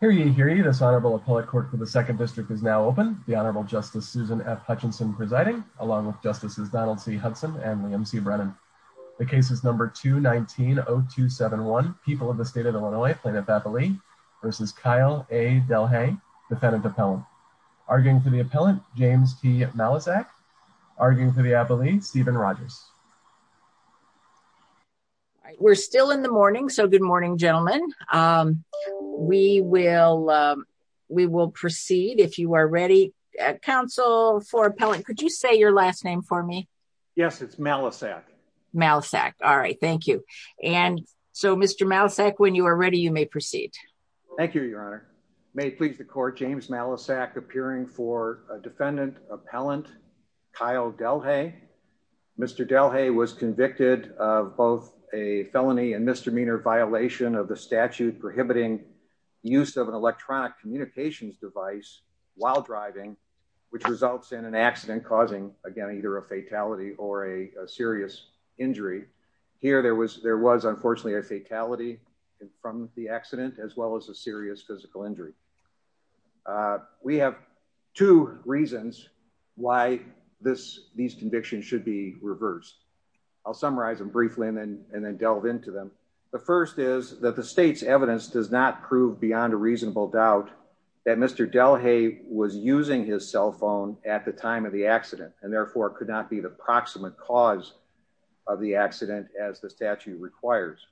v. Kyle A. Delhaye, Defendant Appellant. Arguing for the Appellant, James T. Malizak. Arguing for the Appellee, Stephen Rogers. We're still in the morning, so good morning, gentlemen. We will proceed if you are ready. Counsel for Appellant, could you say your last name for me? Yes, it's Malizak. Malizak. All right, thank you. And so, Mr. Malizak, when you are ready, you may proceed. Thank you, Your Honor. May it please the Court, James Malizak, appearing for Defendant Appellant, Kyle Delhaye. Mr. Delhaye was convicted of both a felony and misdemeanor violation of the statute prohibiting use of an electronic communications device while driving, which results in an accident causing, again, either a fatality or a serious injury. Here, there was, unfortunately, a fatality from the accident, as well as a serious physical injury. We have two reasons why these convictions should be reversed. I'll summarize them briefly and then delve into them. The first is that the State's evidence does not prove beyond a reasonable doubt that Mr. Delhaye was using his cell phone at the time of the accident and, therefore, could not be the proximate cause of the accident as the statute requires.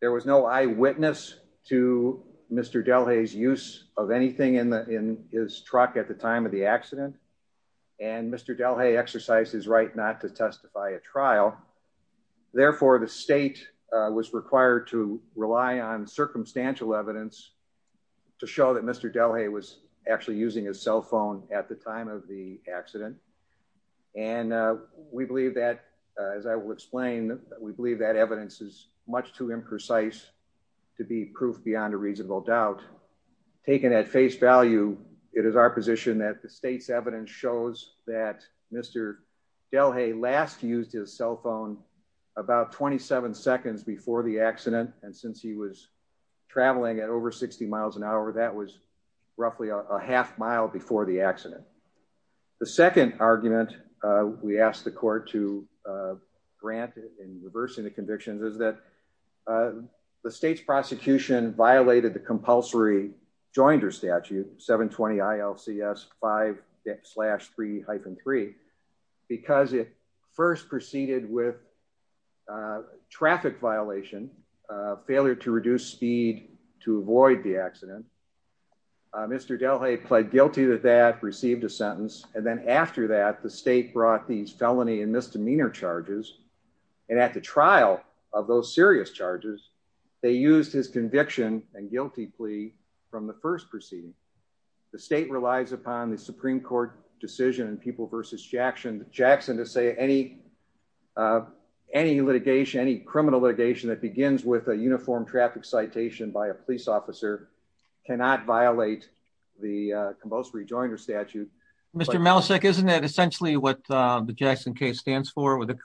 There was no eyewitness to Mr. Delhaye's of anything in his truck at the time of the accident, and Mr. Delhaye exercised his right not to testify at trial. Therefore, the State was required to rely on circumstantial evidence to show that Mr. Delhaye was actually using his cell phone at the time of the accident, and we believe that, as I will explain, we believe that evidence is much too imprecise to be proof beyond a reasonable doubt. Taken at face value, it is our position that the State's evidence shows that Mr. Delhaye last used his cell phone about 27 seconds before the accident, and since he was traveling at over 60 miles an hour, that was roughly a half mile before the accident. The second argument we ask the Court to grant in reversing the convictions is that the State's prosecution violated the compulsory joinder statute, 720-ILCS-5-3-3 because it first proceeded with traffic violation, failure to reduce speed to avoid the accident. Mr. Delhaye pled guilty to that, received a sentence, and then after that, the State brought these felony and misdemeanor charges, and at the trial of those serious charges, they used his conviction and guilty plea from the first proceeding. The State relies upon the Supreme Court decision in People v. Jackson to say any criminal litigation that begins with a uniform traffic citation by a police officer cannot violate the compulsory joinder statute. The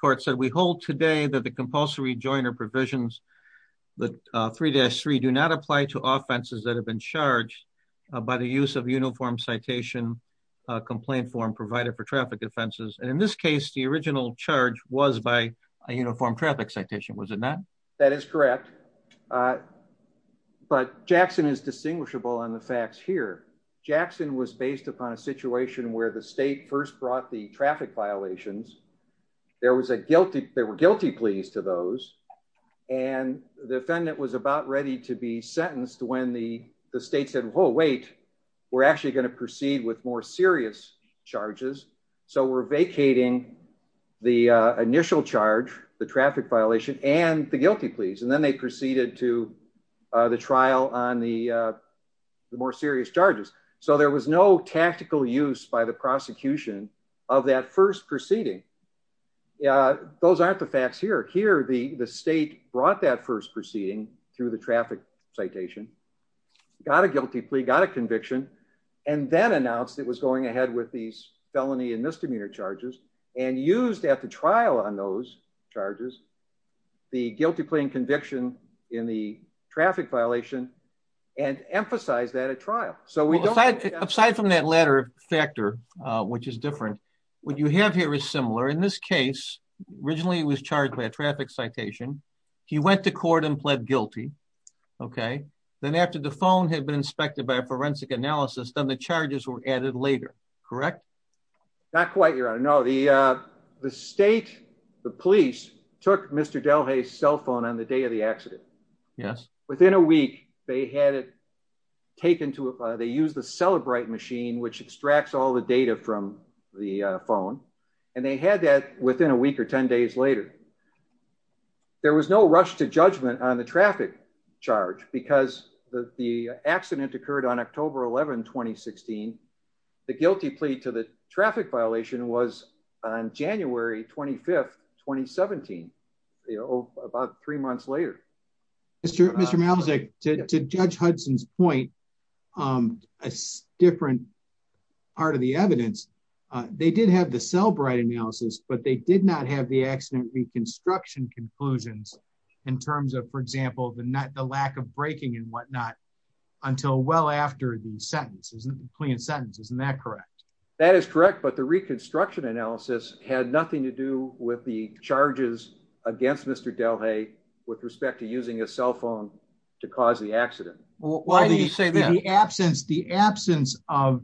court said we hold today that the compulsory joinder provisions 3-3 do not apply to offenses that have been charged by the use of uniform citation complaint form provided for traffic offenses, and in this case, the original charge was by a uniform traffic citation, was it not? That is correct, but Jackson is distinguishable on the facts here. Jackson was based upon a situation where the State first brought the traffic violations. There were guilty pleas to those, and the defendant was about ready to be sentenced when the State said, whoa, wait, we're actually going to proceed with more serious charges, so we're vacating the initial charge, the traffic violation, and the guilty pleas, and then they proceeded to the trial on the more serious charges, so there was no tactical use by the prosecution of that first proceeding. Those aren't the facts here. Here, the State brought that first proceeding through the traffic citation, got a guilty plea, got a conviction, and then announced it was going ahead with these felony and misdemeanor charges and used at the trial on those charges the guilty plea and conviction in the traffic violation and emphasized that at trial. So, we don't... Well, aside from that latter factor, which is different, what you have here is similar. In this case, originally, he was charged by a traffic citation. He went to court and pled guilty, okay? Then, after the phone had been inspected by a forensic analysis, then the charges were added later, correct? Not quite, Your Honor. No, the State, the police took Mr. Malmstead's phone and they had it taken to... They used the Celebrite machine, which extracts all the data from the phone, and they had that within a week or 10 days later. There was no rush to judgment on the traffic charge because the accident occurred on October 11, 2016. The guilty plea to the traffic violation was on January 25, 2017, about three months later. Mr. Malmstead, to Judge Hudson's point, a different part of the evidence, they did have the Celebrite analysis, but they did not have the accident reconstruction conclusions in terms of, for example, the lack of braking and whatnot until well after the sentence, isn't the plea and sentence, isn't that correct? That is correct, but the reconstruction analysis had nothing to do with the charges against Mr. Delhaix with respect to using a cell phone to cause the accident. Why do you say that? The absence of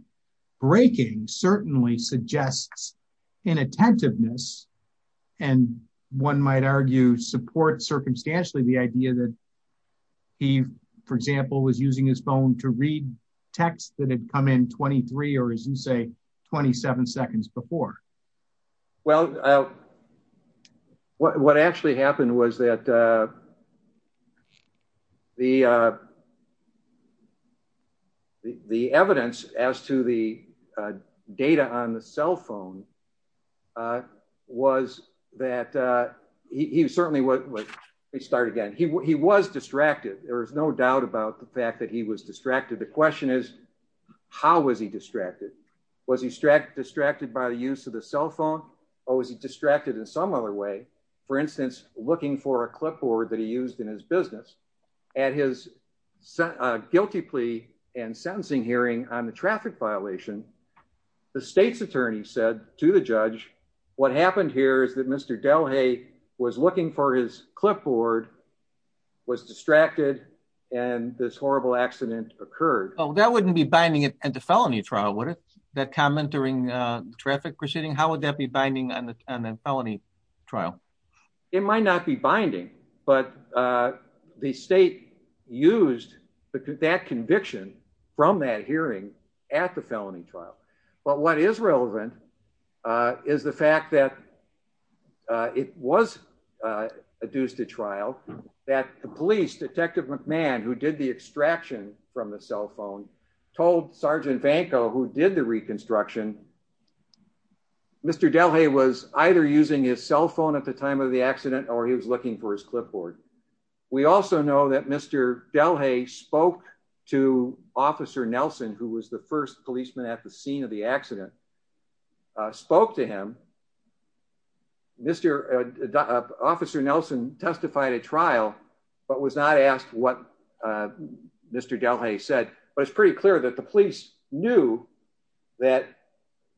braking certainly suggests inattentiveness and, one might argue, support circumstantially the idea that he, for example, was using his phone to read text that had come in 23, or as you say, 27 seconds before. Well, what actually happened was that the evidence as to the data on the cell phone was that he certainly was, let me start again, he was distracted. There was no doubt about the fact that he was distracted. The question is, how was he distracted? Was he distracted by the use of the cell phone, or was he distracted in some other way? For instance, looking for a clipboard that he used in his business. At his guilty plea and sentencing hearing on the traffic violation, the state's attorney said to the judge, what happened here is that Mr. Delhaix was looking for his clipboard, was distracted, and this horrible accident occurred. Well, that wouldn't be binding it at the felony trial, would it? That comment during the traffic proceeding, how would that be binding on the felony trial? It might not be binding, but the state used that conviction from that hearing at the felony trial. But what is relevant is the fact that it was adduced to trial, that the police, Detective McMahon, who did the extraction from the cell phone, told Sergeant Vanko, who did the reconstruction, Mr. Delhaix was either using his cell phone at the time of the accident, or he was looking for his clipboard. We also know that Mr. Delhaix spoke to Officer Nelson, who was the first policeman at the scene of the accident, spoke to him. Officer Nelson testified at trial, but was not asked what Mr. Delhaix said. But it's pretty clear that the police knew that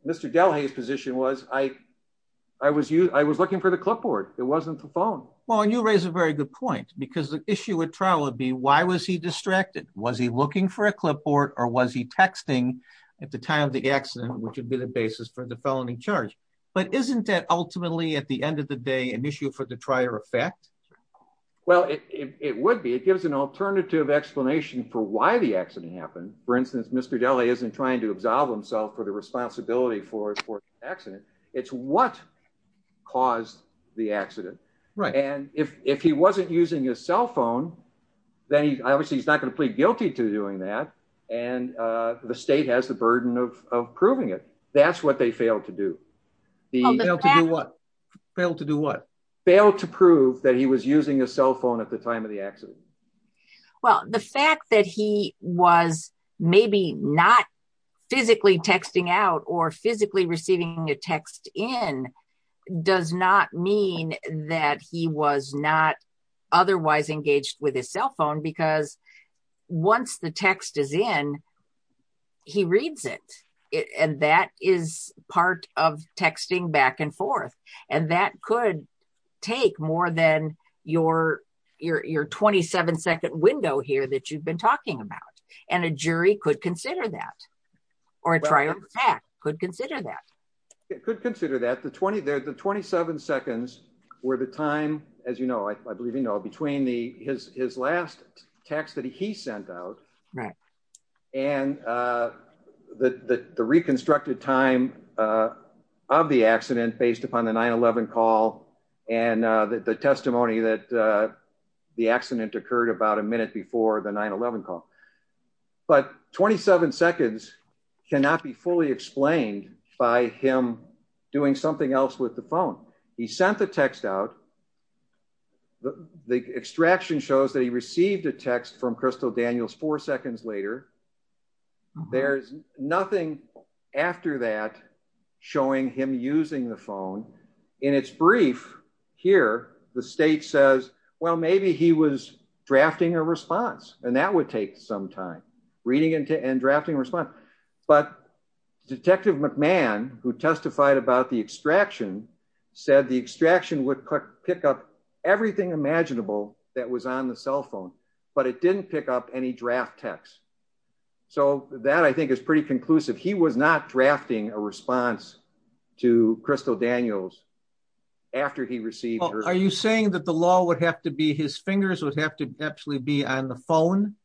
Mr. Delhaix's position was, I was looking for the clipboard, it wasn't the phone. Well, and you raise a very good point, because the issue at trial would be, was he distracted? Was he looking for a clipboard, or was he texting at the time of the accident, which would be the basis for the felony charge? But isn't that ultimately, at the end of the day, an issue for the trier effect? Well, it would be. It gives an alternative explanation for why the accident happened. For instance, Mr. Delhaix isn't trying to absolve himself for the responsibility for the accident. It's what caused the accident. And if he wasn't using his cell phone, then obviously, he's not going to plead guilty to doing that. And the state has the burden of proving it. That's what they failed to do. Failed to do what? Failed to prove that he was using a cell phone at the time of the accident. Well, the fact that he was maybe not physically texting out or physically receiving a text in does not mean that he was not engaged with his cell phone, because once the text is in, he reads it. And that is part of texting back and forth. And that could take more than your 27-second window here that you've been talking about. And a jury could consider that, or a trier could consider that. It could consider that. The 27 seconds were the time, as you know, I believe you know, between his last text that he sent out and the reconstructed time of the accident based upon the 9-11 call and the testimony that the accident occurred about a minute before the 9-11 call. But 27 seconds cannot be fully explained by him doing something else with the phone. He sent the text out. The extraction shows that he received a text from Crystal Daniels four seconds later. There's nothing after that showing him using the phone. In its brief here, the state says, well, maybe he was drafting a response. And that would take some time, reading and drafting a response. But Detective McMahon, who testified about the extraction, said the extraction would pick up everything imaginable that was on the cell phone, but it didn't pick up any draft text. So that I think is pretty conclusive. He was not drafting a response to Crystal Daniels after he received her. Are you saying that the law would have to be, his fingers would have to actually be on the phone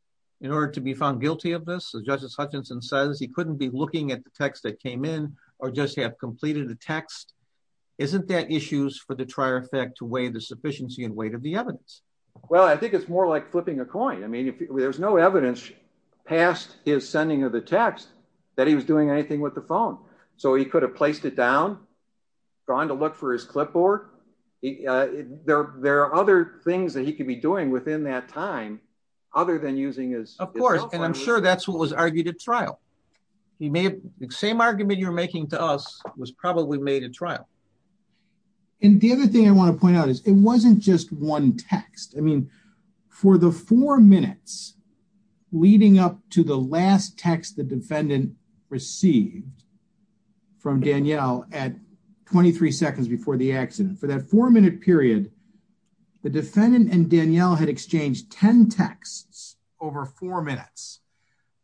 in order to be found guilty of this? As Justice Hutchinson says, he couldn't be looking at the text that came in or just have completed the text. Isn't that issues for the trier effect to weigh the sufficiency and weight of the evidence? Well, I think it's more like flipping a coin. I mean, there's no evidence past his sending of the text that he was doing anything with the phone. So he could have placed it down, gone to look for his clipboard. There are other things that he could be doing within that time, other than using his cell phone. Of course. And I'm sure that's what was argued at trial. The same argument you're making to us was probably made at trial. And the other thing I want to point out is it wasn't just one text. I think it was a series of texts that he received from Danielle at 23 seconds before the accident for that four minute period, the defendant and Danielle had exchanged 10 texts over four minutes,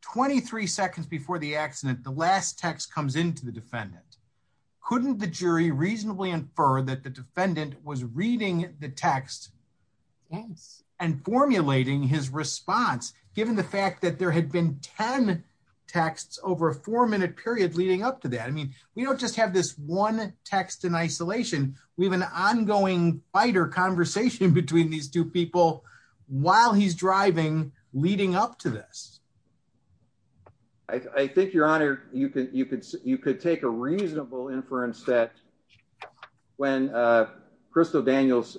23 seconds before the accident, the last text comes into the defendant. Couldn't the jury reasonably infer that the defendant was reading the text and formulating his response given the fact that there had been 10 texts over a four minute period leading up to that? I mean, we don't just have this one text in isolation. We have an ongoing fighter conversation between these two people while he's driving leading up to this. I think your honor, you could take a reasonable inference that when Crystal Daniels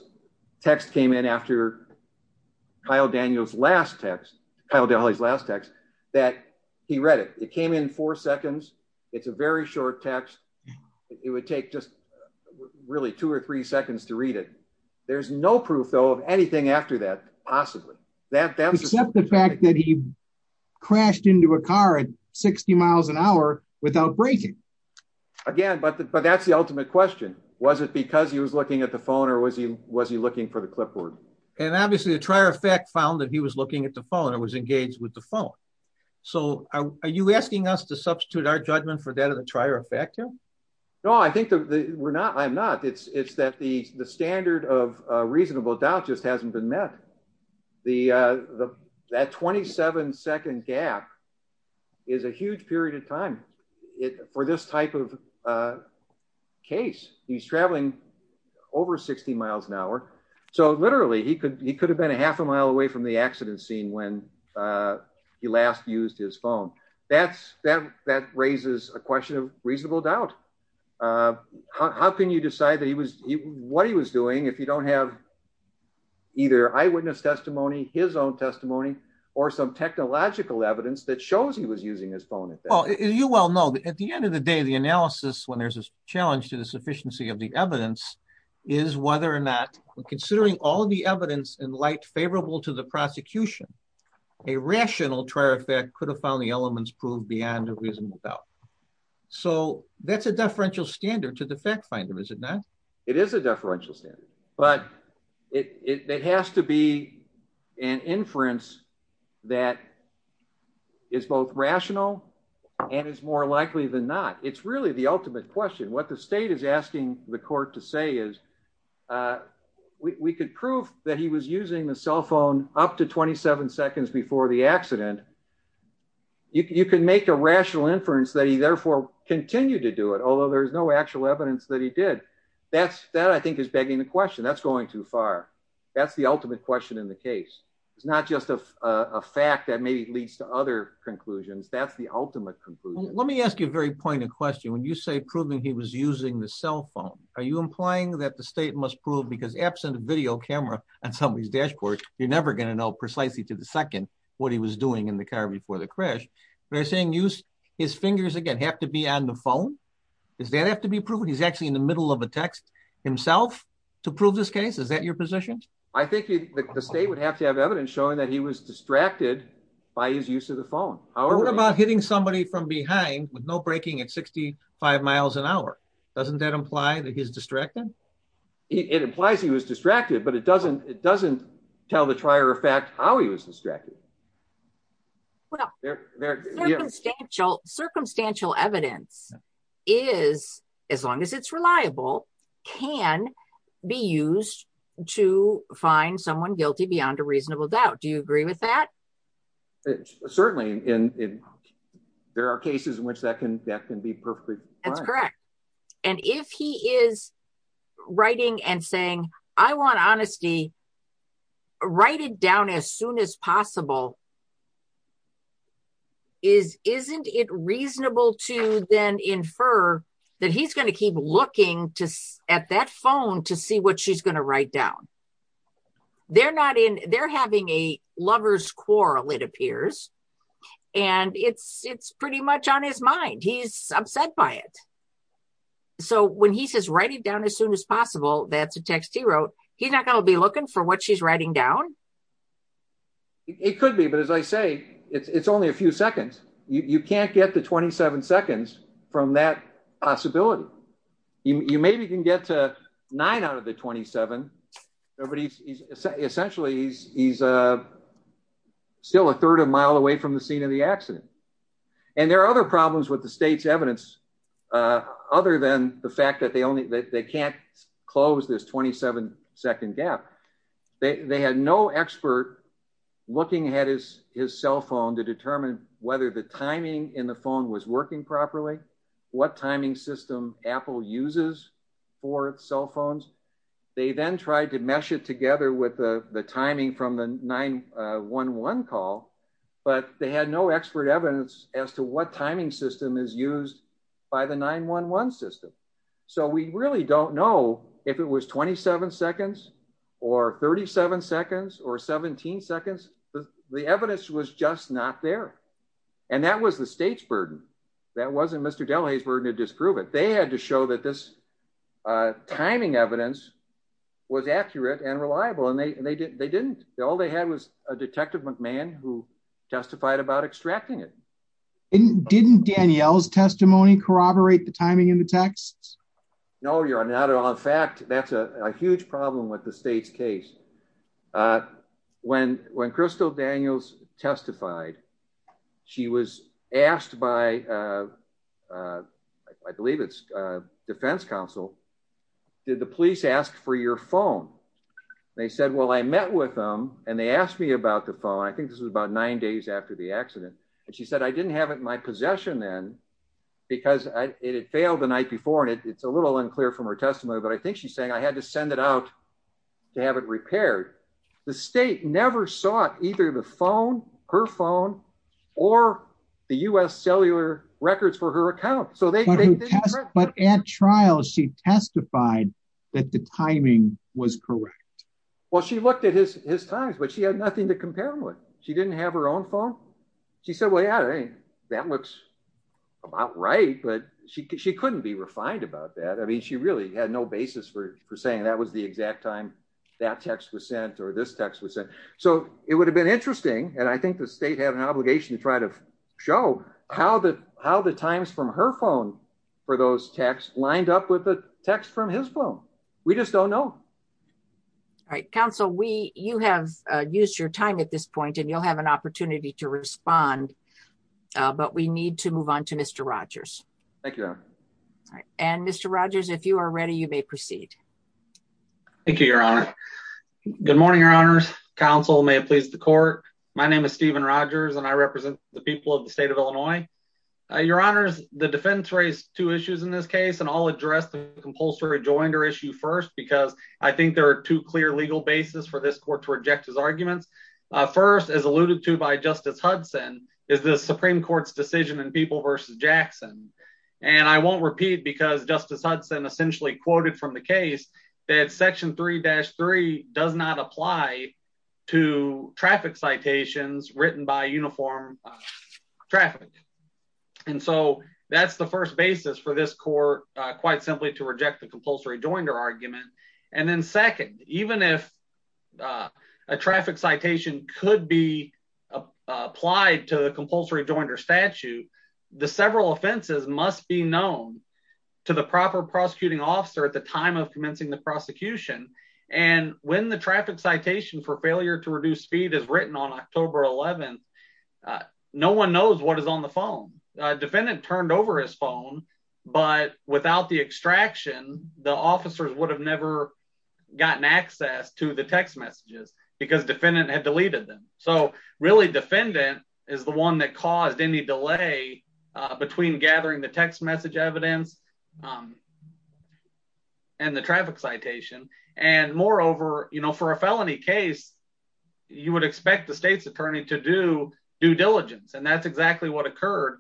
text came in after Kyle Daniels last text, that he read it. It came in four seconds. It's a very short text. It would take just really two or three seconds to read it. There's no proof though, of anything after that, possibly. Except the fact that he crashed into a car at 60 miles an hour without braking. Again, but that's the ultimate question. Was it because he was looking at the phone or was he was he looking for the clipboard? And obviously the trier of fact found that he was looking at the phone and was engaged with the phone. So are you asking us to substitute our judgment for that of the trier of fact? No, I think that we're not. I'm not. It's that the standard of reasonable doubt just hasn't been met. That 27 second gap is a huge period of time for this type of case. He's traveling over 60 miles an hour. So literally he could he could have been a half a mile away from the accident scene when he last used his phone. That raises a question of reasonable doubt. How can you decide that he was what he was doing if you don't have either eyewitness testimony, his own testimony, or some technological evidence that shows he was at the end of the day, the analysis when there's a challenge to the sufficiency of the evidence is whether or not we're considering all the evidence in light favorable to the prosecution. A rational trier of fact could have found the elements proved beyond a reasonable doubt. So that's a deferential standard to the fact finder, is it not? It is a deferential standard, but it has to be an inference that is both rational and is more likely than not. It's really the ultimate question. What the state is asking the court to say is we could prove that he was using the cell phone up to 27 seconds before the accident. You can make a rational inference that he therefore continued to do it, although there's no actual evidence that he did. That, I think, is begging the question. That's going too far. That's the ultimate question in the case. It's not just a fact that maybe leads to other conclusions. That's the ultimate conclusion. Let me ask you a very pointed question. When you say proving he was using the cell phone, are you implying that the state must prove because absent a video camera on somebody's dashboard, you're never going to know precisely to the second what he was doing in the car before the crash. But are you saying his fingers again have to be on the phone? Does that have to be actually in the middle of a text himself to prove this case? Is that your position? I think the state would have to have evidence showing that he was distracted by his use of the phone. What about hitting somebody from behind with no braking at 65 miles an hour? Doesn't that imply that he's distracted? It implies he was distracted, but it doesn't tell the trier of fact how he was distracted. Well, circumstantial evidence is, as long as it's reliable, can be used to find someone guilty beyond a reasonable doubt. Do you agree with that? Certainly. There are cases in which that can be perfectly fine. That's correct. If he is writing and saying, I want honesty, write it down as soon as possible, isn't it reasonable to then infer that he's going to keep looking at that phone to see what she's going to write down? They're having a lover's quarrel, it appears. It's pretty much on his mind. He's upset by it. When he says, write it down as soon as possible, that's a text he wrote. He's not going to be looking for what she's writing down? It could be, but as I say, it's only a few seconds. You can't get to 27 seconds from that possibility. You maybe can get to nine out of the 27. Essentially, he's still a third of a mile away from the scene of the accident. There are other problems with the state's evidence other than the fact that they can't close this 27 second gap. They had no expert looking at his cell phone to determine whether the timing in the phone was working properly, what timing system Apple uses for cell phones. They then tried to mesh it together with the timing from the 911 call, but they had no expert evidence as to what timing system is used by the 911 system. We really don't know if it was 27 seconds or 37 seconds or 17 seconds. The evidence was just not there. That was the state's burden. That wasn't Mr. Delahay's burden to disprove it. They had to show that this timing evidence was accurate and reliable. They didn't. All they had was a testified about extracting it. Didn't Danielle's testimony corroborate the timing in the text? No, not at all. In fact, that's a huge problem with the state's case. When Crystal Daniels testified, she was asked by, I believe it's defense counsel, did the police ask for your phone? They said, well, I met with them and they asked me about the phone. I think this was about nine days after the accident. She said, I didn't have it in my possession then because it had failed the night before. It's a little unclear from her testimony, but I think she's saying I had to send it out to have it repaired. The state never sought either the phone, her phone, or the US cellular records for her account. At trial, she testified that the didn't have her own phone. She said, well, yeah, that looks about right, but she couldn't be refined about that. She really had no basis for saying that was the exact time that text was sent or this text was sent. It would have been interesting. I think the state had an obligation to try to show how the times from her phone for those texts lined up with the text from his phone. We just don't know. All right, counsel, you have used your time at this point and you'll have an opportunity to respond, but we need to move on to Mr. Rogers. Thank you. And Mr. Rogers, if you are ready, you may proceed. Thank you, your honor. Good morning, your honors. Counsel, may it please the court. My name is Stephen Rogers and I represent the people of the state of Illinois. Your honors, the defense raised two issues in this case and all addressed the rejoinder issue first, because I think there are two clear legal basis for this court to reject his arguments. First, as alluded to by Justice Hudson, is the Supreme Court's decision in People versus Jackson. And I won't repeat because Justice Hudson essentially quoted from the case that section three dash three does not apply to traffic citations written by uniform traffic. And so that's the first basis for this court, quite simply to reject the compulsory rejoinder argument. And then second, even if a traffic citation could be applied to the compulsory rejoinder statute, the several offenses must be known to the proper prosecuting officer at the time of commencing the prosecution. And when the traffic citation for failure to reduce speed is no one knows what is on the phone. Defendant turned over his phone, but without the extraction, the officers would have never gotten access to the text messages because defendant had deleted them. So really, defendant is the one that caused any delay between gathering the text message evidence and the traffic citation. And moreover, for a felony case, you would expect the state's due diligence. And that's exactly what occurred.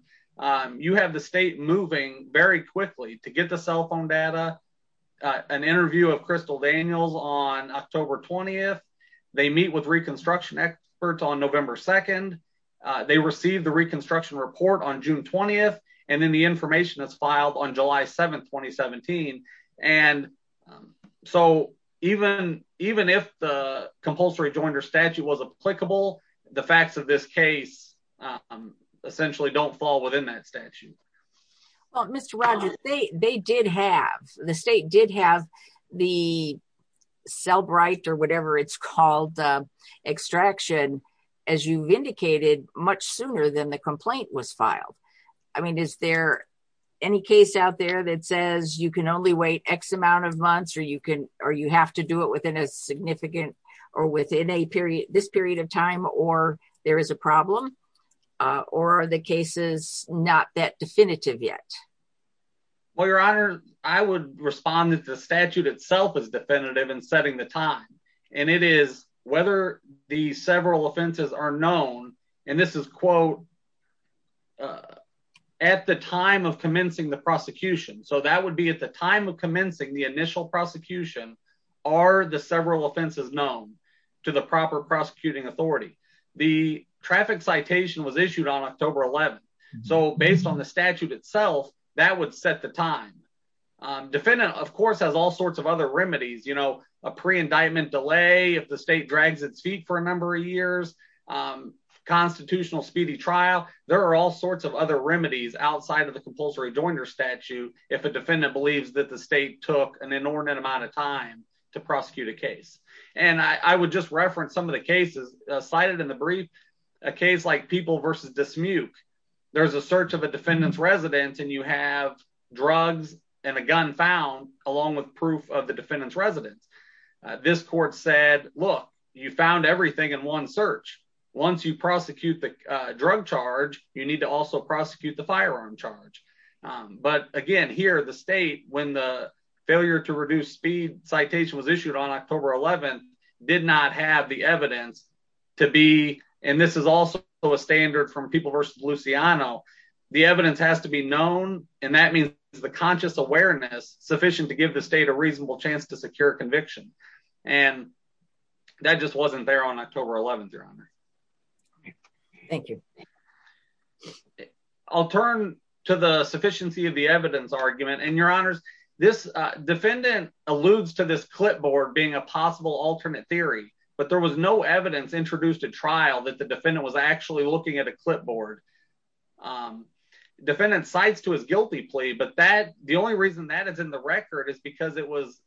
You have the state moving very quickly to get the cell phone data, an interview of Crystal Daniels on October 20th. They meet with reconstruction experts on November 2nd. They received the reconstruction report on June 20th. And then the information is filed on July 7th, 2017. And so even if the compulsory rejoinder statute was applicable, the facts of this case essentially don't fall within that statute. Well, Mr. Rogers, they did have, the state did have the cell bright or whatever it's called, extraction, as you've indicated, much sooner than the complaint was filed. I mean, is there any case out there that says you can only wait X amount of months or you can, or you have to do it within a significant or within a period, this period of time, or there is a problem or the case is not that definitive yet? Well, your honor, I would respond that the statute itself is definitive and setting the time. And it is whether the several offenses are known, and this is quote, at the time of commencing the prosecution. So that would be at the time commencing the initial prosecution are the several offenses known to the proper prosecuting authority. The traffic citation was issued on October 11th. So based on the statute itself, that would set the time. Defendant of course has all sorts of other remedies, you know, a pre-indictment delay. If the state drags its feet for a number of years, constitutional speedy trial, there are all sorts of other remedies outside of the compulsory rejoinder statute. If a defendant believes that the state took an inordinate amount of time to prosecute a case. And I would just reference some of the cases cited in the brief, a case like people versus dismute. There's a search of a defendant's residence and you have drugs and a gun found along with proof of the defendant's residence. This court said, look, you found everything in one search. Once you prosecute the drug charge, you need to also prosecute the firearm charge. But again, here the state, when the failure to reduce speed citation was issued on October 11th did not have the evidence to be. And this is also a standard from people versus Luciano. The evidence has to be known. And that means the conscious awareness sufficient to give the state a reasonable chance to secure conviction. And that just wasn't there on October 11th, your honor. Okay. Thank you. I'll turn to the sufficiency of the evidence argument and your honors. This defendant alludes to this clipboard being a possible alternate theory, but there was no evidence introduced a trial that the defendant was actually looking at a clipboard. Defendant cites to his guilty plea, but that the only reason that is in the record is because it was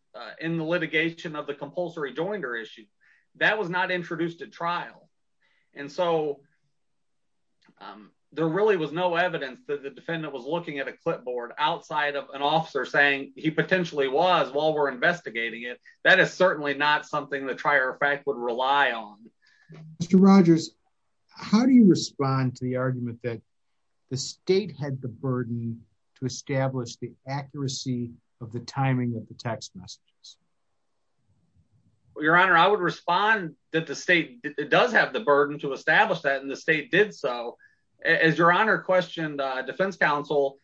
in the litigation of the compulsory joinder issue that was not introduced at trial. And so there really was no evidence that the defendant was looking at a clipboard outside of an officer saying he potentially was while we're investigating it. That is certainly not something that trier fact would rely on. Mr. Rogers, how do you respond to the argument that the state had the burden to establish the accuracy of the timing of the text messages? Your honor, I would respond that the state does have the burden to establish that in the state did. So as your honor questioned, uh, defense counsel,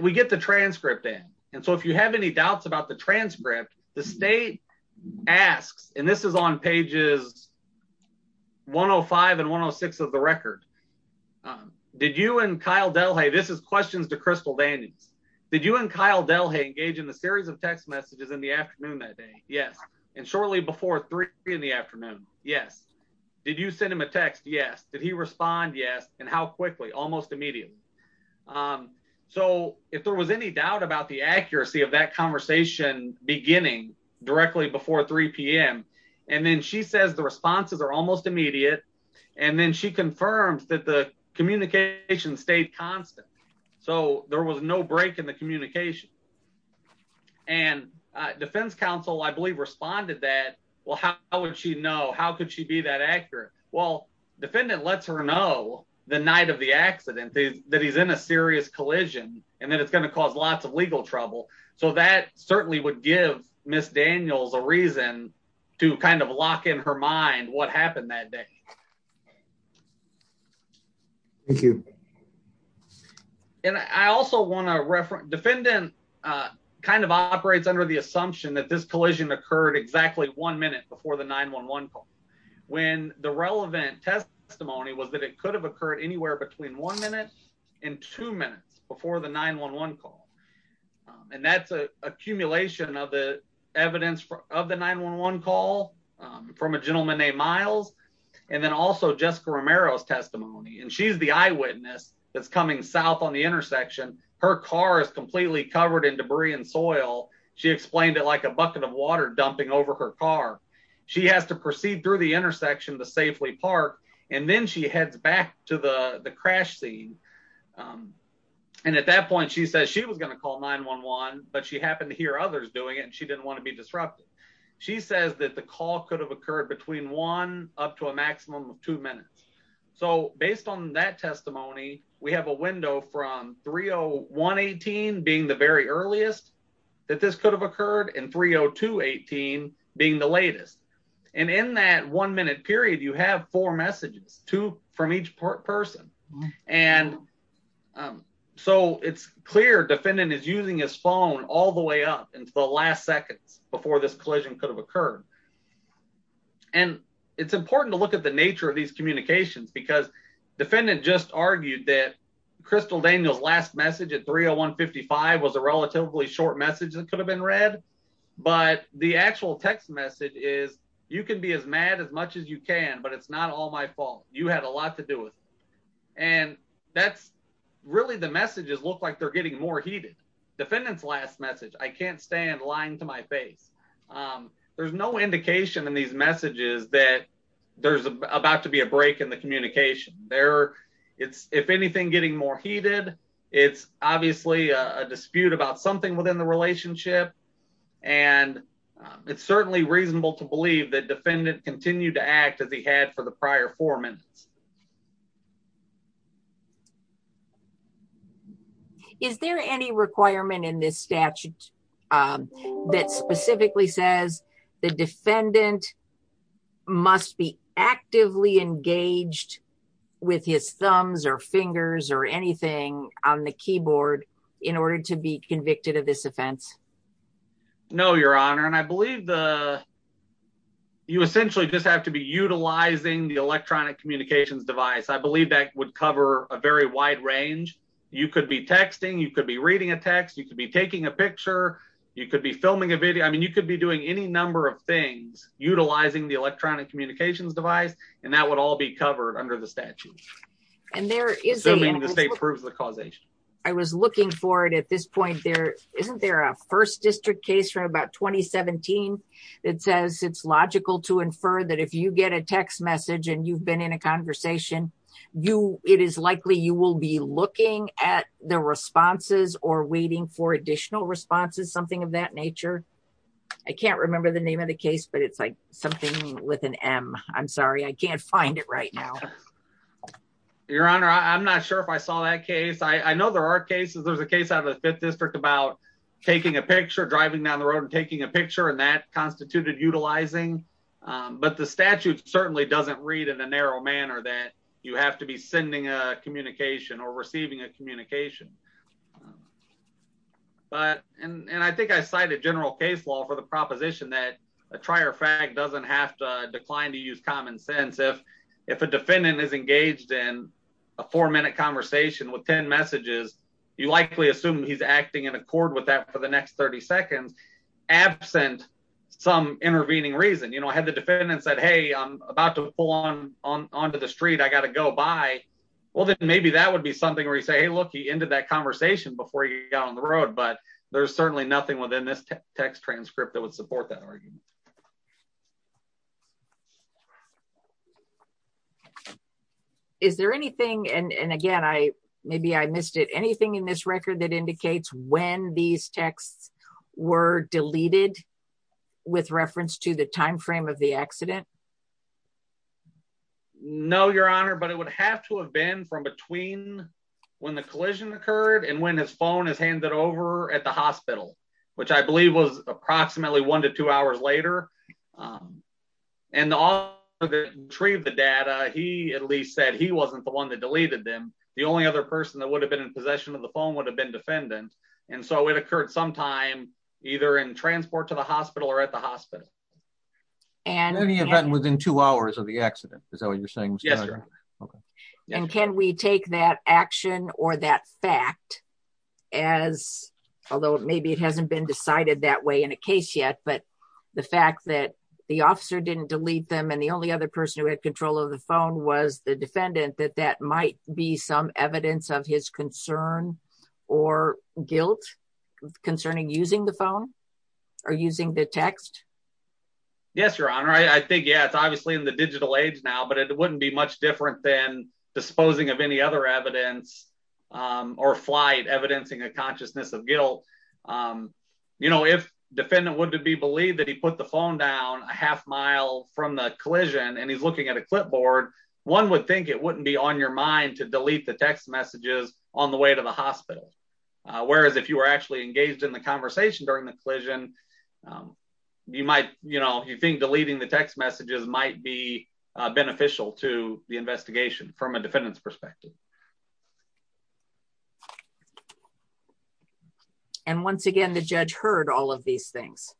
we get the transcript in. And so if you have any doubts about the transcript, the state asks, and this is on pages 105 and 106 of the record. Um, did you and Kyle Delhey, this is questions to Crystal Daniels. Did you and Kyle Delhey engage in the series of text messages in the afternoon that day? Yes. And shortly before three in the afternoon. Yes. Did you send him a text? Yes. Did he respond? Yes. And how quickly, almost immediately. Um, so if there was any doubt about the accuracy of that beginning directly before three p.m. And then she says the responses are almost immediate. And then she confirms that the communication stayed constant. So there was no break in the communication and defense counsel, I believe, responded that. Well, how would she know? How could she be that accurate? Well, defendant lets her know the night of the accident that he's in serious collision, and then it's going to cause lots of legal trouble. So that certainly would give miss Daniels a reason to kind of lock in her mind. What happened that day? Thank you. And I also want to refer defendant, uh, kind of operates under the assumption that this collision occurred exactly one minute before the 911 call when the relevant testimony was that it could have occurred anywhere between one minute and two minutes before the 911 call. And that's a accumulation of the evidence of the 911 call from a gentleman named Miles and then also Jessica Romero's testimony. And she's the eyewitness that's coming south on the intersection. Her car is completely covered in debris and soil. She explained it like a bucket of water dumping over her car. She has to proceed through the intersection to safely park. And then she heads back to the crash scene. Um, and at that point, she says she was gonna call 911. But she happened to hear others doing it, and she didn't want to be disrupted. She says that the call could have occurred between one up to a maximum of two minutes. So based on that testimony, we have a window from 301 18 being the very earliest that this could have occurred in 302 18 being the latest. And in that one minute period, you have four messages to from each person. And, um, so it's clear defendant is using his phone all the way up into the last seconds before this collision could have occurred. And it's important to look at the nature of these communications because defendant just argued that Crystal Daniel's message at 301 55 was a relatively short message that could have been read. But the actual text message is you could be as mad as much as you can, but it's not all my fault. You had a lot to do it. And that's really the messages look like they're getting more heated. Defendant's last message. I can't stand lying to my face. Um, there's no indication in these messages that there's about to be a break in the communication there. It's if anything, getting more heated. It's obviously a dispute about something within the relationship, and it's certainly reasonable to believe that defendant continued to act as he had for the prior four minutes. Is there any requirement in this statute that specifically says the defendant must be actively engaged with his thumbs or fingers or anything on the keyboard in order to be convicted of this offense? No, Your Honor. And I believe the you essentially just have to be utilizing the electronic communications device. I believe that would cover a very wide range. You could be texting. You could be reading a text. You could be taking a picture. You could be filming a video. I mean, you could be doing any number of things utilizing the electronic communications device, and that would all be covered under the statute. And there is a state proves the causation. I was looking for it at this point there. Isn't there a first district case from about 2017 that says it's logical to infer that if you get a text message and you've been in a conversation, you it is likely you will be looking at the responses or waiting for additional responses, something of that nature. I can't remember the case, but it's like something with an M. I'm sorry, I can't find it right now. Your Honor, I'm not sure if I saw that case. I know there are cases. There's a case out of the fifth district about taking a picture, driving down the road and taking a picture, and that constituted utilizing. But the statute certainly doesn't read in a narrow manner that you have to be sending a communication or receiving a communication. But and I think I cited general case law for the proposition that a trier fag doesn't have to decline to use common sense. If if a defendant is engaged in a four minute conversation with 10 messages, you likely assume he's acting in accord with that for the next 30 seconds, absent some intervening reason. You know, I had the defendant said, Hey, I'm about to pull on onto the street. I gotta go by. Well, then maybe that would be something where you say, Hey, look, into that conversation before you got on the road. But there's certainly nothing within this text transcript that would support that argument. Is there anything and again, I maybe I missed it. Anything in this record that indicates when these texts were deleted with reference to the time frame of the accident? No, Your Honor, but it would have to have been from between when the collision occurred and when his phone is handed over at the hospital, which I believe was approximately one to two hours later. And all the tree of the data, he at least said he wasn't the one that deleted them. The only other person that would have been in possession of the phone would have been defendant. And so it occurred sometime either in transport to the hospital or at the hospital. And any event within two hours of the accident, is that what you're saying? Yes. And can we take that action or that fact as although maybe it hasn't been decided that way in a case yet, but the fact that the officer didn't delete them and the only other person who had control of the phone was the defendant, that that might be some evidence of his concern or guilt concerning using the phone or using the text? Yes, Your Honor. I think, yeah, it's obviously in the digital age now, but it wouldn't be much different than disposing of any other evidence or flight evidencing a consciousness of guilt. You know, if defendant would be believed that he put the phone down a half mile from the collision and he's looking at a clipboard, one would think it wouldn't be on your mind to delete the text messages on the way to the hospital. Whereas if you were actually engaged in the conversation during the collision, you might, you know, you think deleting the text messages might be beneficial to the investigation from a defendant's perspective. And once again, the judge heard all of these things.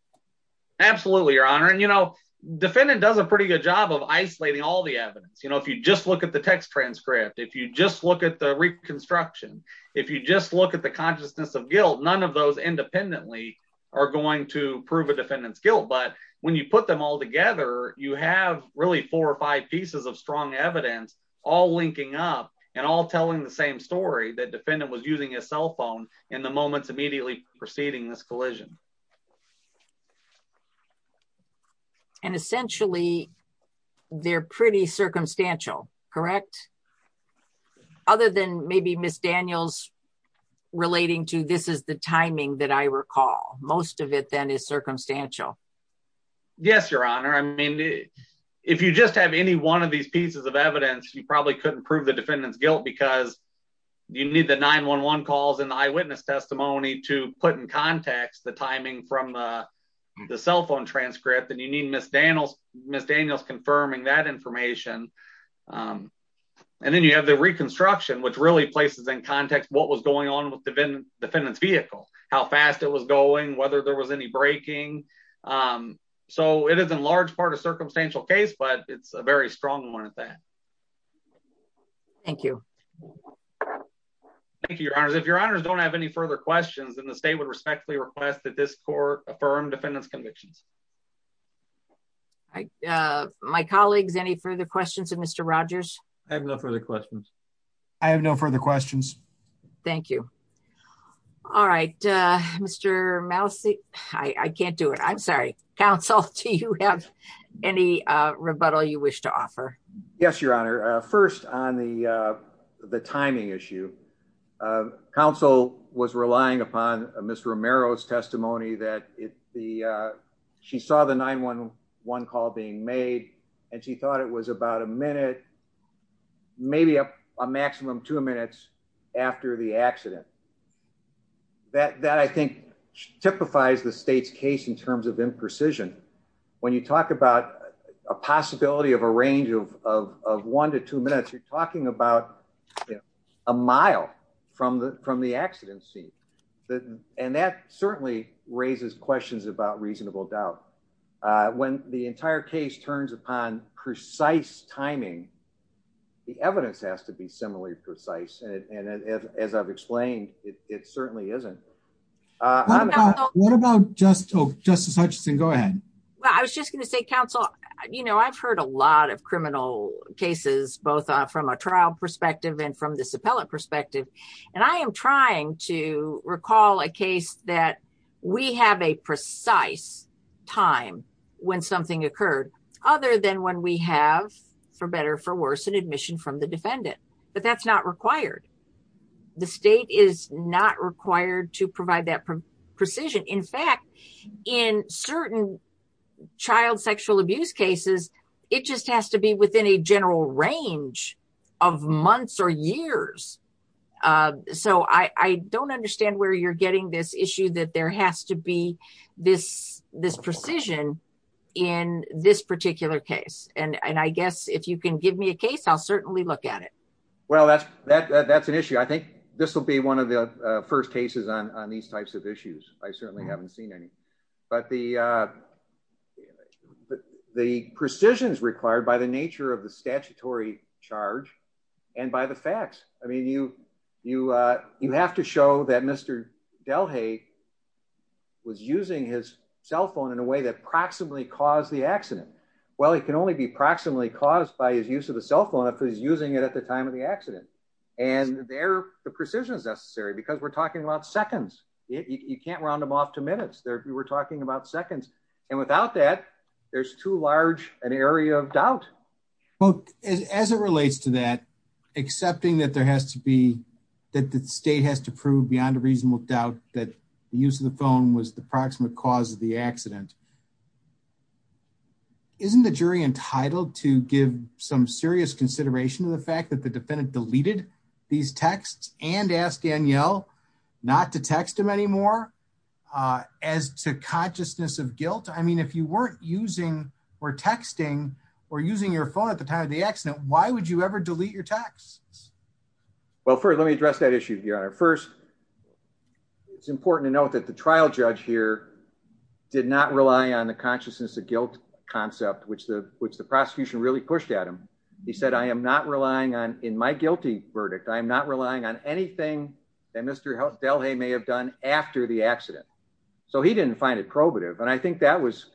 Absolutely, Your Honor. And, you know, defendant does a pretty good job of isolating all the constructions. If you just look at the consciousness of guilt, none of those independently are going to prove a defendant's guilt. But when you put them all together, you have really four or five pieces of strong evidence all linking up and all telling the same story that defendant was using his cell phone in the moments immediately preceding this collision. And essentially, they're pretty circumstantial, correct? Other than maybe Ms. Daniels relating to this is the timing that I recall. Most of it then is circumstantial. Yes, Your Honor. I mean, if you just have any one of these pieces of evidence, you probably couldn't prove the defendant's guilt because you need the 911 calls and the eyewitness testimony to put in context the timing from the cell phone transcript. And you need Ms. Daniels confirming that information. And then you have the reconstruction, which really places in context what was going on with the defendant's vehicle, how fast it was going, whether there was any braking. So it is in large part a circumstantial case, but it's a very strong one at that. Thank you. Thank you, Your Honor. If Your Honor don't have any further questions, then the state would respectfully request that this court affirm defendants convictions. My colleagues, any further questions of Mr. Rogers? I have no further questions. I have no further questions. Thank you. All right, Mr. Mousy. I can't do it. I'm sorry, counsel. Do you have any rebuttal you wish to offer? Yes, Your Honor. First on the timing issue, counsel was relying upon Ms. Romero's testimony that she saw the 911 call being made, and she thought it was about a minute, maybe a maximum two minutes after the accident. That I think typifies the state's case in terms of imprecision. When you talk about a possibility of a range of one to two minutes, you're talking about a mile from the accident scene. And that certainly raises questions about reasonable doubt. When the entire case turns upon precise timing, the evidence has to be similarly precise. And as I've explained, it certainly isn't. What about Justice Hutchinson? Go ahead. I was just going to say, counsel, you know, I've heard a lot of criminal cases, both from a trial perspective and from this appellate perspective. And I am trying to recall a case that we have a precise time when something occurred, other than when we have, for better or for worse, an admission from the defendant. But that's not required. The state is not required to provide that precision. In fact, in certain child sexual abuse cases, it just has to be within a general range of months or years. So I don't understand where you're getting this issue that there has to be this precision in this particular case. And I guess if you can give me a case, I'll certainly look at it. Well, that's an issue. I think this will be one of the first cases on these types of issues. I certainly haven't seen any. But the precision is required by the nature of the statutory charge and by the facts. I mean, you have to show that Mr. Delhay was using his cell phone in a way that proximately caused the accident. Well, it can only be proximately caused by his use of the cell phone if he's using it at the time of the accident. And there, the precision is necessary because we're talking about seconds. You can't round them off to minutes. We're talking about seconds. And without that, there's too large an area of doubt. Well, as it relates to that, accepting that there has to be, that the state has to prove beyond a reasonable doubt that the use of the phone was the proximate cause of the accident. Isn't the jury entitled to give some serious consideration to the fact that the defendant deleted these texts and asked Danielle not to text him anymore? As to consciousness of guilt? I mean, if you weren't using or texting or using your phone at the time of the accident, why would you ever delete your texts? Well, first, let me address that issue, Your Honor. First, it's important to note that the trial judge here did not rely on the consciousness of guilt concept, which the prosecution really pushed at him. He said, I am not relying on, in my guilty verdict, I'm not relying on anything that Mr. Delhay may have done after the accident. So he didn't find it probative. And I think that was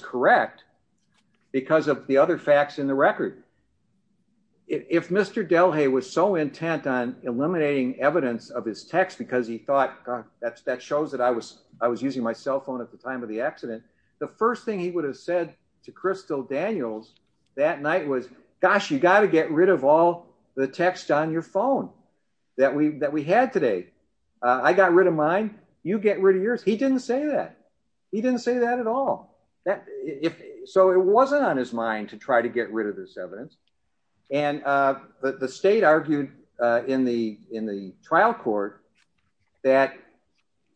correct because of the other facts in the record. If Mr. Delhay was so intent on eliminating evidence of his text because he thought that shows that I was using my cell phone at the time of the accident, the first thing he would have said to Crystal Daniels that night was, gosh, you got to get rid of all the text on your phone that we had today. I got rid of mine. You get rid of yours. He didn't say that. He didn't say that at all. So it wasn't on his mind to try to get rid of this evidence. And the state argued in the trial court that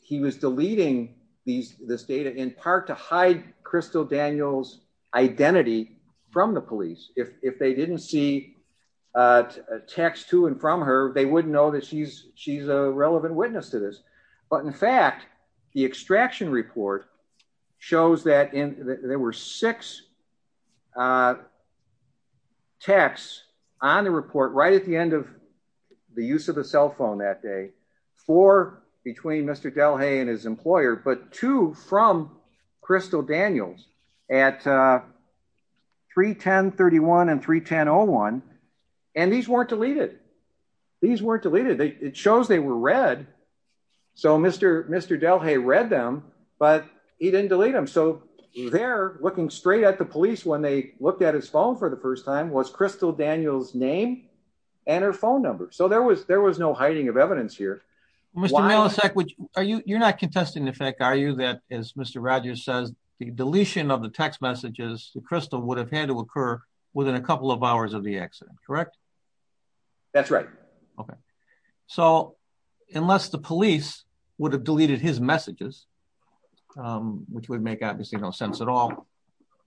he was deleting this data in part to hide Crystal Daniels' identity from the police. If they didn't see text to and from her, they wouldn't know that she's a relevant witness to this. But in fact, the extraction report shows that there were six texts on the report right at the end of the use of the cell phone that for between Mr. Delhay and his employer, but two from Crystal Daniels at 31031 and 31001. And these weren't deleted. These weren't deleted. It shows they were read. So Mr. Delhay read them, but he didn't delete them. So they're looking straight at the police when they looked at his phone for the first time was Crystal Daniels' name and her phone number. So there was no hiding of evidence here. Mr. Milosevic, you're not contesting the fact, are you, that as Mr. Rogers says, the deletion of the text messages to Crystal would have had to occur within a couple of hours of the accident, correct? That's right. Okay. So unless the police would have deleted his messages, which would make obviously no sense at all,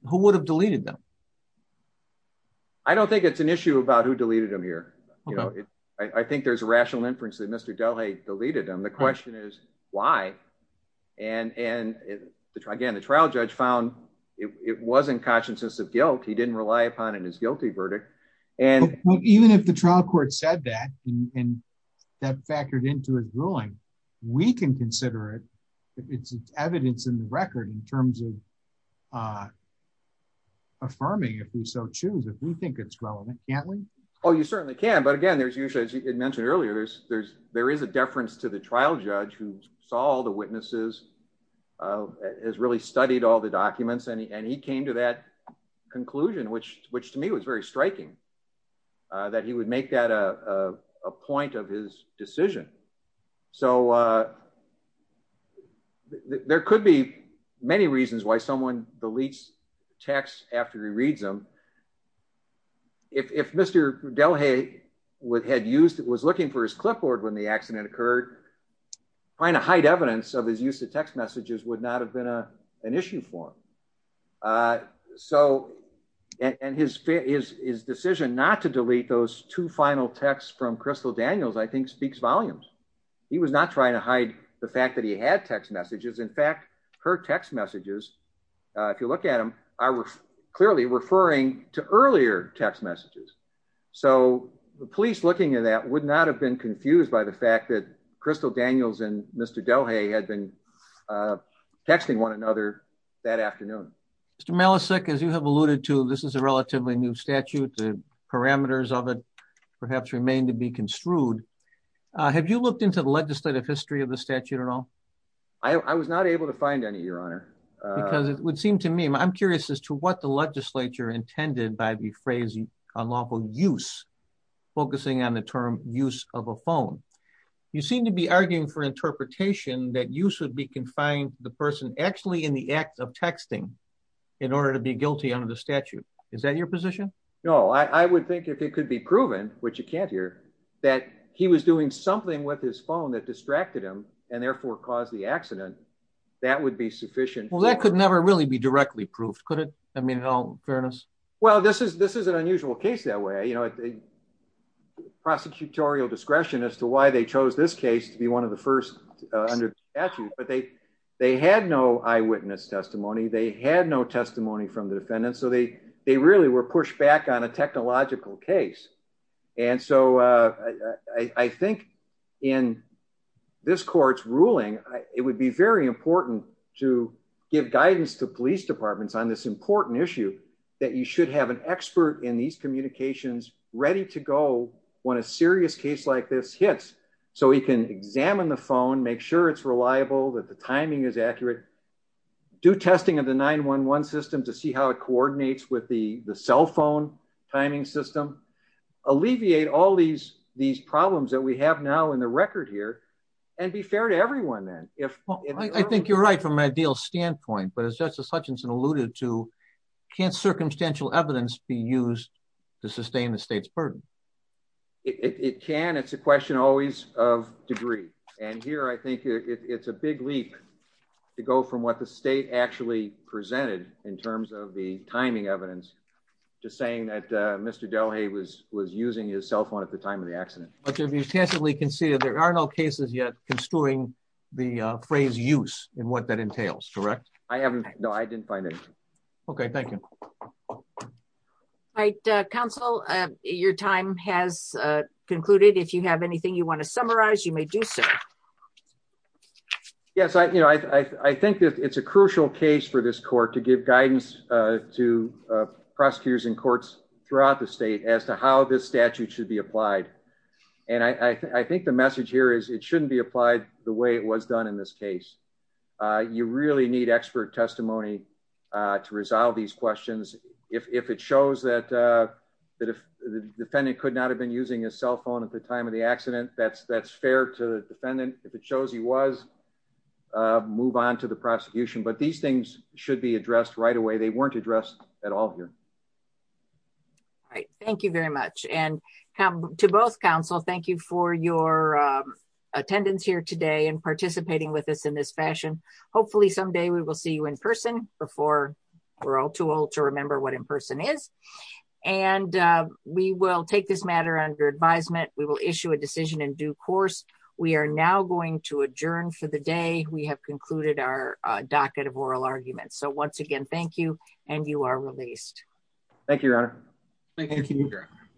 who would have deleted them? I don't think it's an issue about who deleted them here. I think there's a rational inference that Mr. Delhay deleted them. The question is why? And again, the trial judge found it wasn't consciousness of guilt. He didn't rely upon in his guilty verdict. Even if the trial court said that, and that factored into his ruling, we can consider it. It's evidence in the record in terms of affirming if we so choose, if we think it's relevant, can't we? Oh, you certainly can. But again, there's usually, as you had mentioned earlier, there is a deference to the trial judge who saw all the witnesses, has really studied all the documents. And he came to that conclusion, which to me was very striking, that he would make that a point of his decision. So there could be many reasons why someone deletes texts after he reads them. If Mr. Delhay had used, was looking for his clipboard when the accident occurred, trying to hide evidence of his use of text messages would not have been an issue for him. So, and his decision not to delete those two final texts from Crystal Daniels, I think, speaks volumes. He was not trying to hide the fact that he had text messages. In fact, her text messages, if you look at them, are clearly referring to earlier text messages. So the police looking at that would not have been confused by the fact that Crystal Daniels and Mr. Delhay had been texting one another that afternoon. Mr. Malasek, as you have alluded to, this is a relatively new statute, the parameters of it perhaps remain to be construed. Have you looked into the legislative history of the statute at all? I was not able to find any, Your Honor. Because it would seem to me, I'm curious as to what the legislature intended by the phrase unlawful use, focusing on the term use of a phone. You seem to be arguing for interpretation that you should be confined the person actually in the act of texting in order to be guilty under the statute. Is that your position? No, I would think if it could be proven, which you can't hear, that he was doing something with his phone that distracted him and therefore caused the accident, that would be sufficient. Well, that could never really be directly proved, could it? I mean, in all fairness. Well, this is an unusual case that way, you know, prosecutorial discretion as to why they chose this case to be one of the first under the statute, but they had no eyewitness testimony, they had no testimony from the defendant. So they really were pushed back on a technological case. And so I think in this court's ruling, it would be very important to give guidance to police departments on this important issue that you should have an expert in these communications ready to go when a serious case like this hits. So he can examine the phone, make sure it's reliable, that the timing is accurate, do testing of the 911 system to see how it coordinates with the cell phone timing system, alleviate all these problems that we have now in the record here, and be fair to everyone. I think you're right from an ideal standpoint, but as Justice Hutchinson alluded to, can't circumstantial evidence be used to sustain the state's burden? It can, it's a question always of degree. And here, I think it's a big leap to go from what the state actually presented in terms of the timing evidence, just saying that Mr. Delhay was using his cell phone at the time of the accident. But you've extensively conceded there are no cases yet construing the phrase use and what that entails, correct? I haven't, no, I didn't find it. Okay, thank you. All right, counsel, your time has concluded. If you have anything you want to summarize, you may do so. Yes, I think that it's a crucial case for this court to give guidance to prosecutors in courts throughout the state as to how this statute should be applied. And I think the message here is it shouldn't be applied the way it was done in this case. You really need expert testimony to resolve these questions. If it shows that the defendant could have been using his cell phone at the time of the accident, that's fair to the defendant. If it shows he was, move on to the prosecution. But these things should be addressed right away. They weren't addressed at all here. All right, thank you very much. And to both counsel, thank you for your attendance here today and participating with us in this fashion. Hopefully someday we will see you in person before we're all too old to remember what in person is. And we will take this matter under advisement. We will issue a decision in due course. We are now going to adjourn for the day. We have concluded our docket of oral arguments. So once again, thank you and you are released. Thank you, Your Honor. Thank you, Your Honor.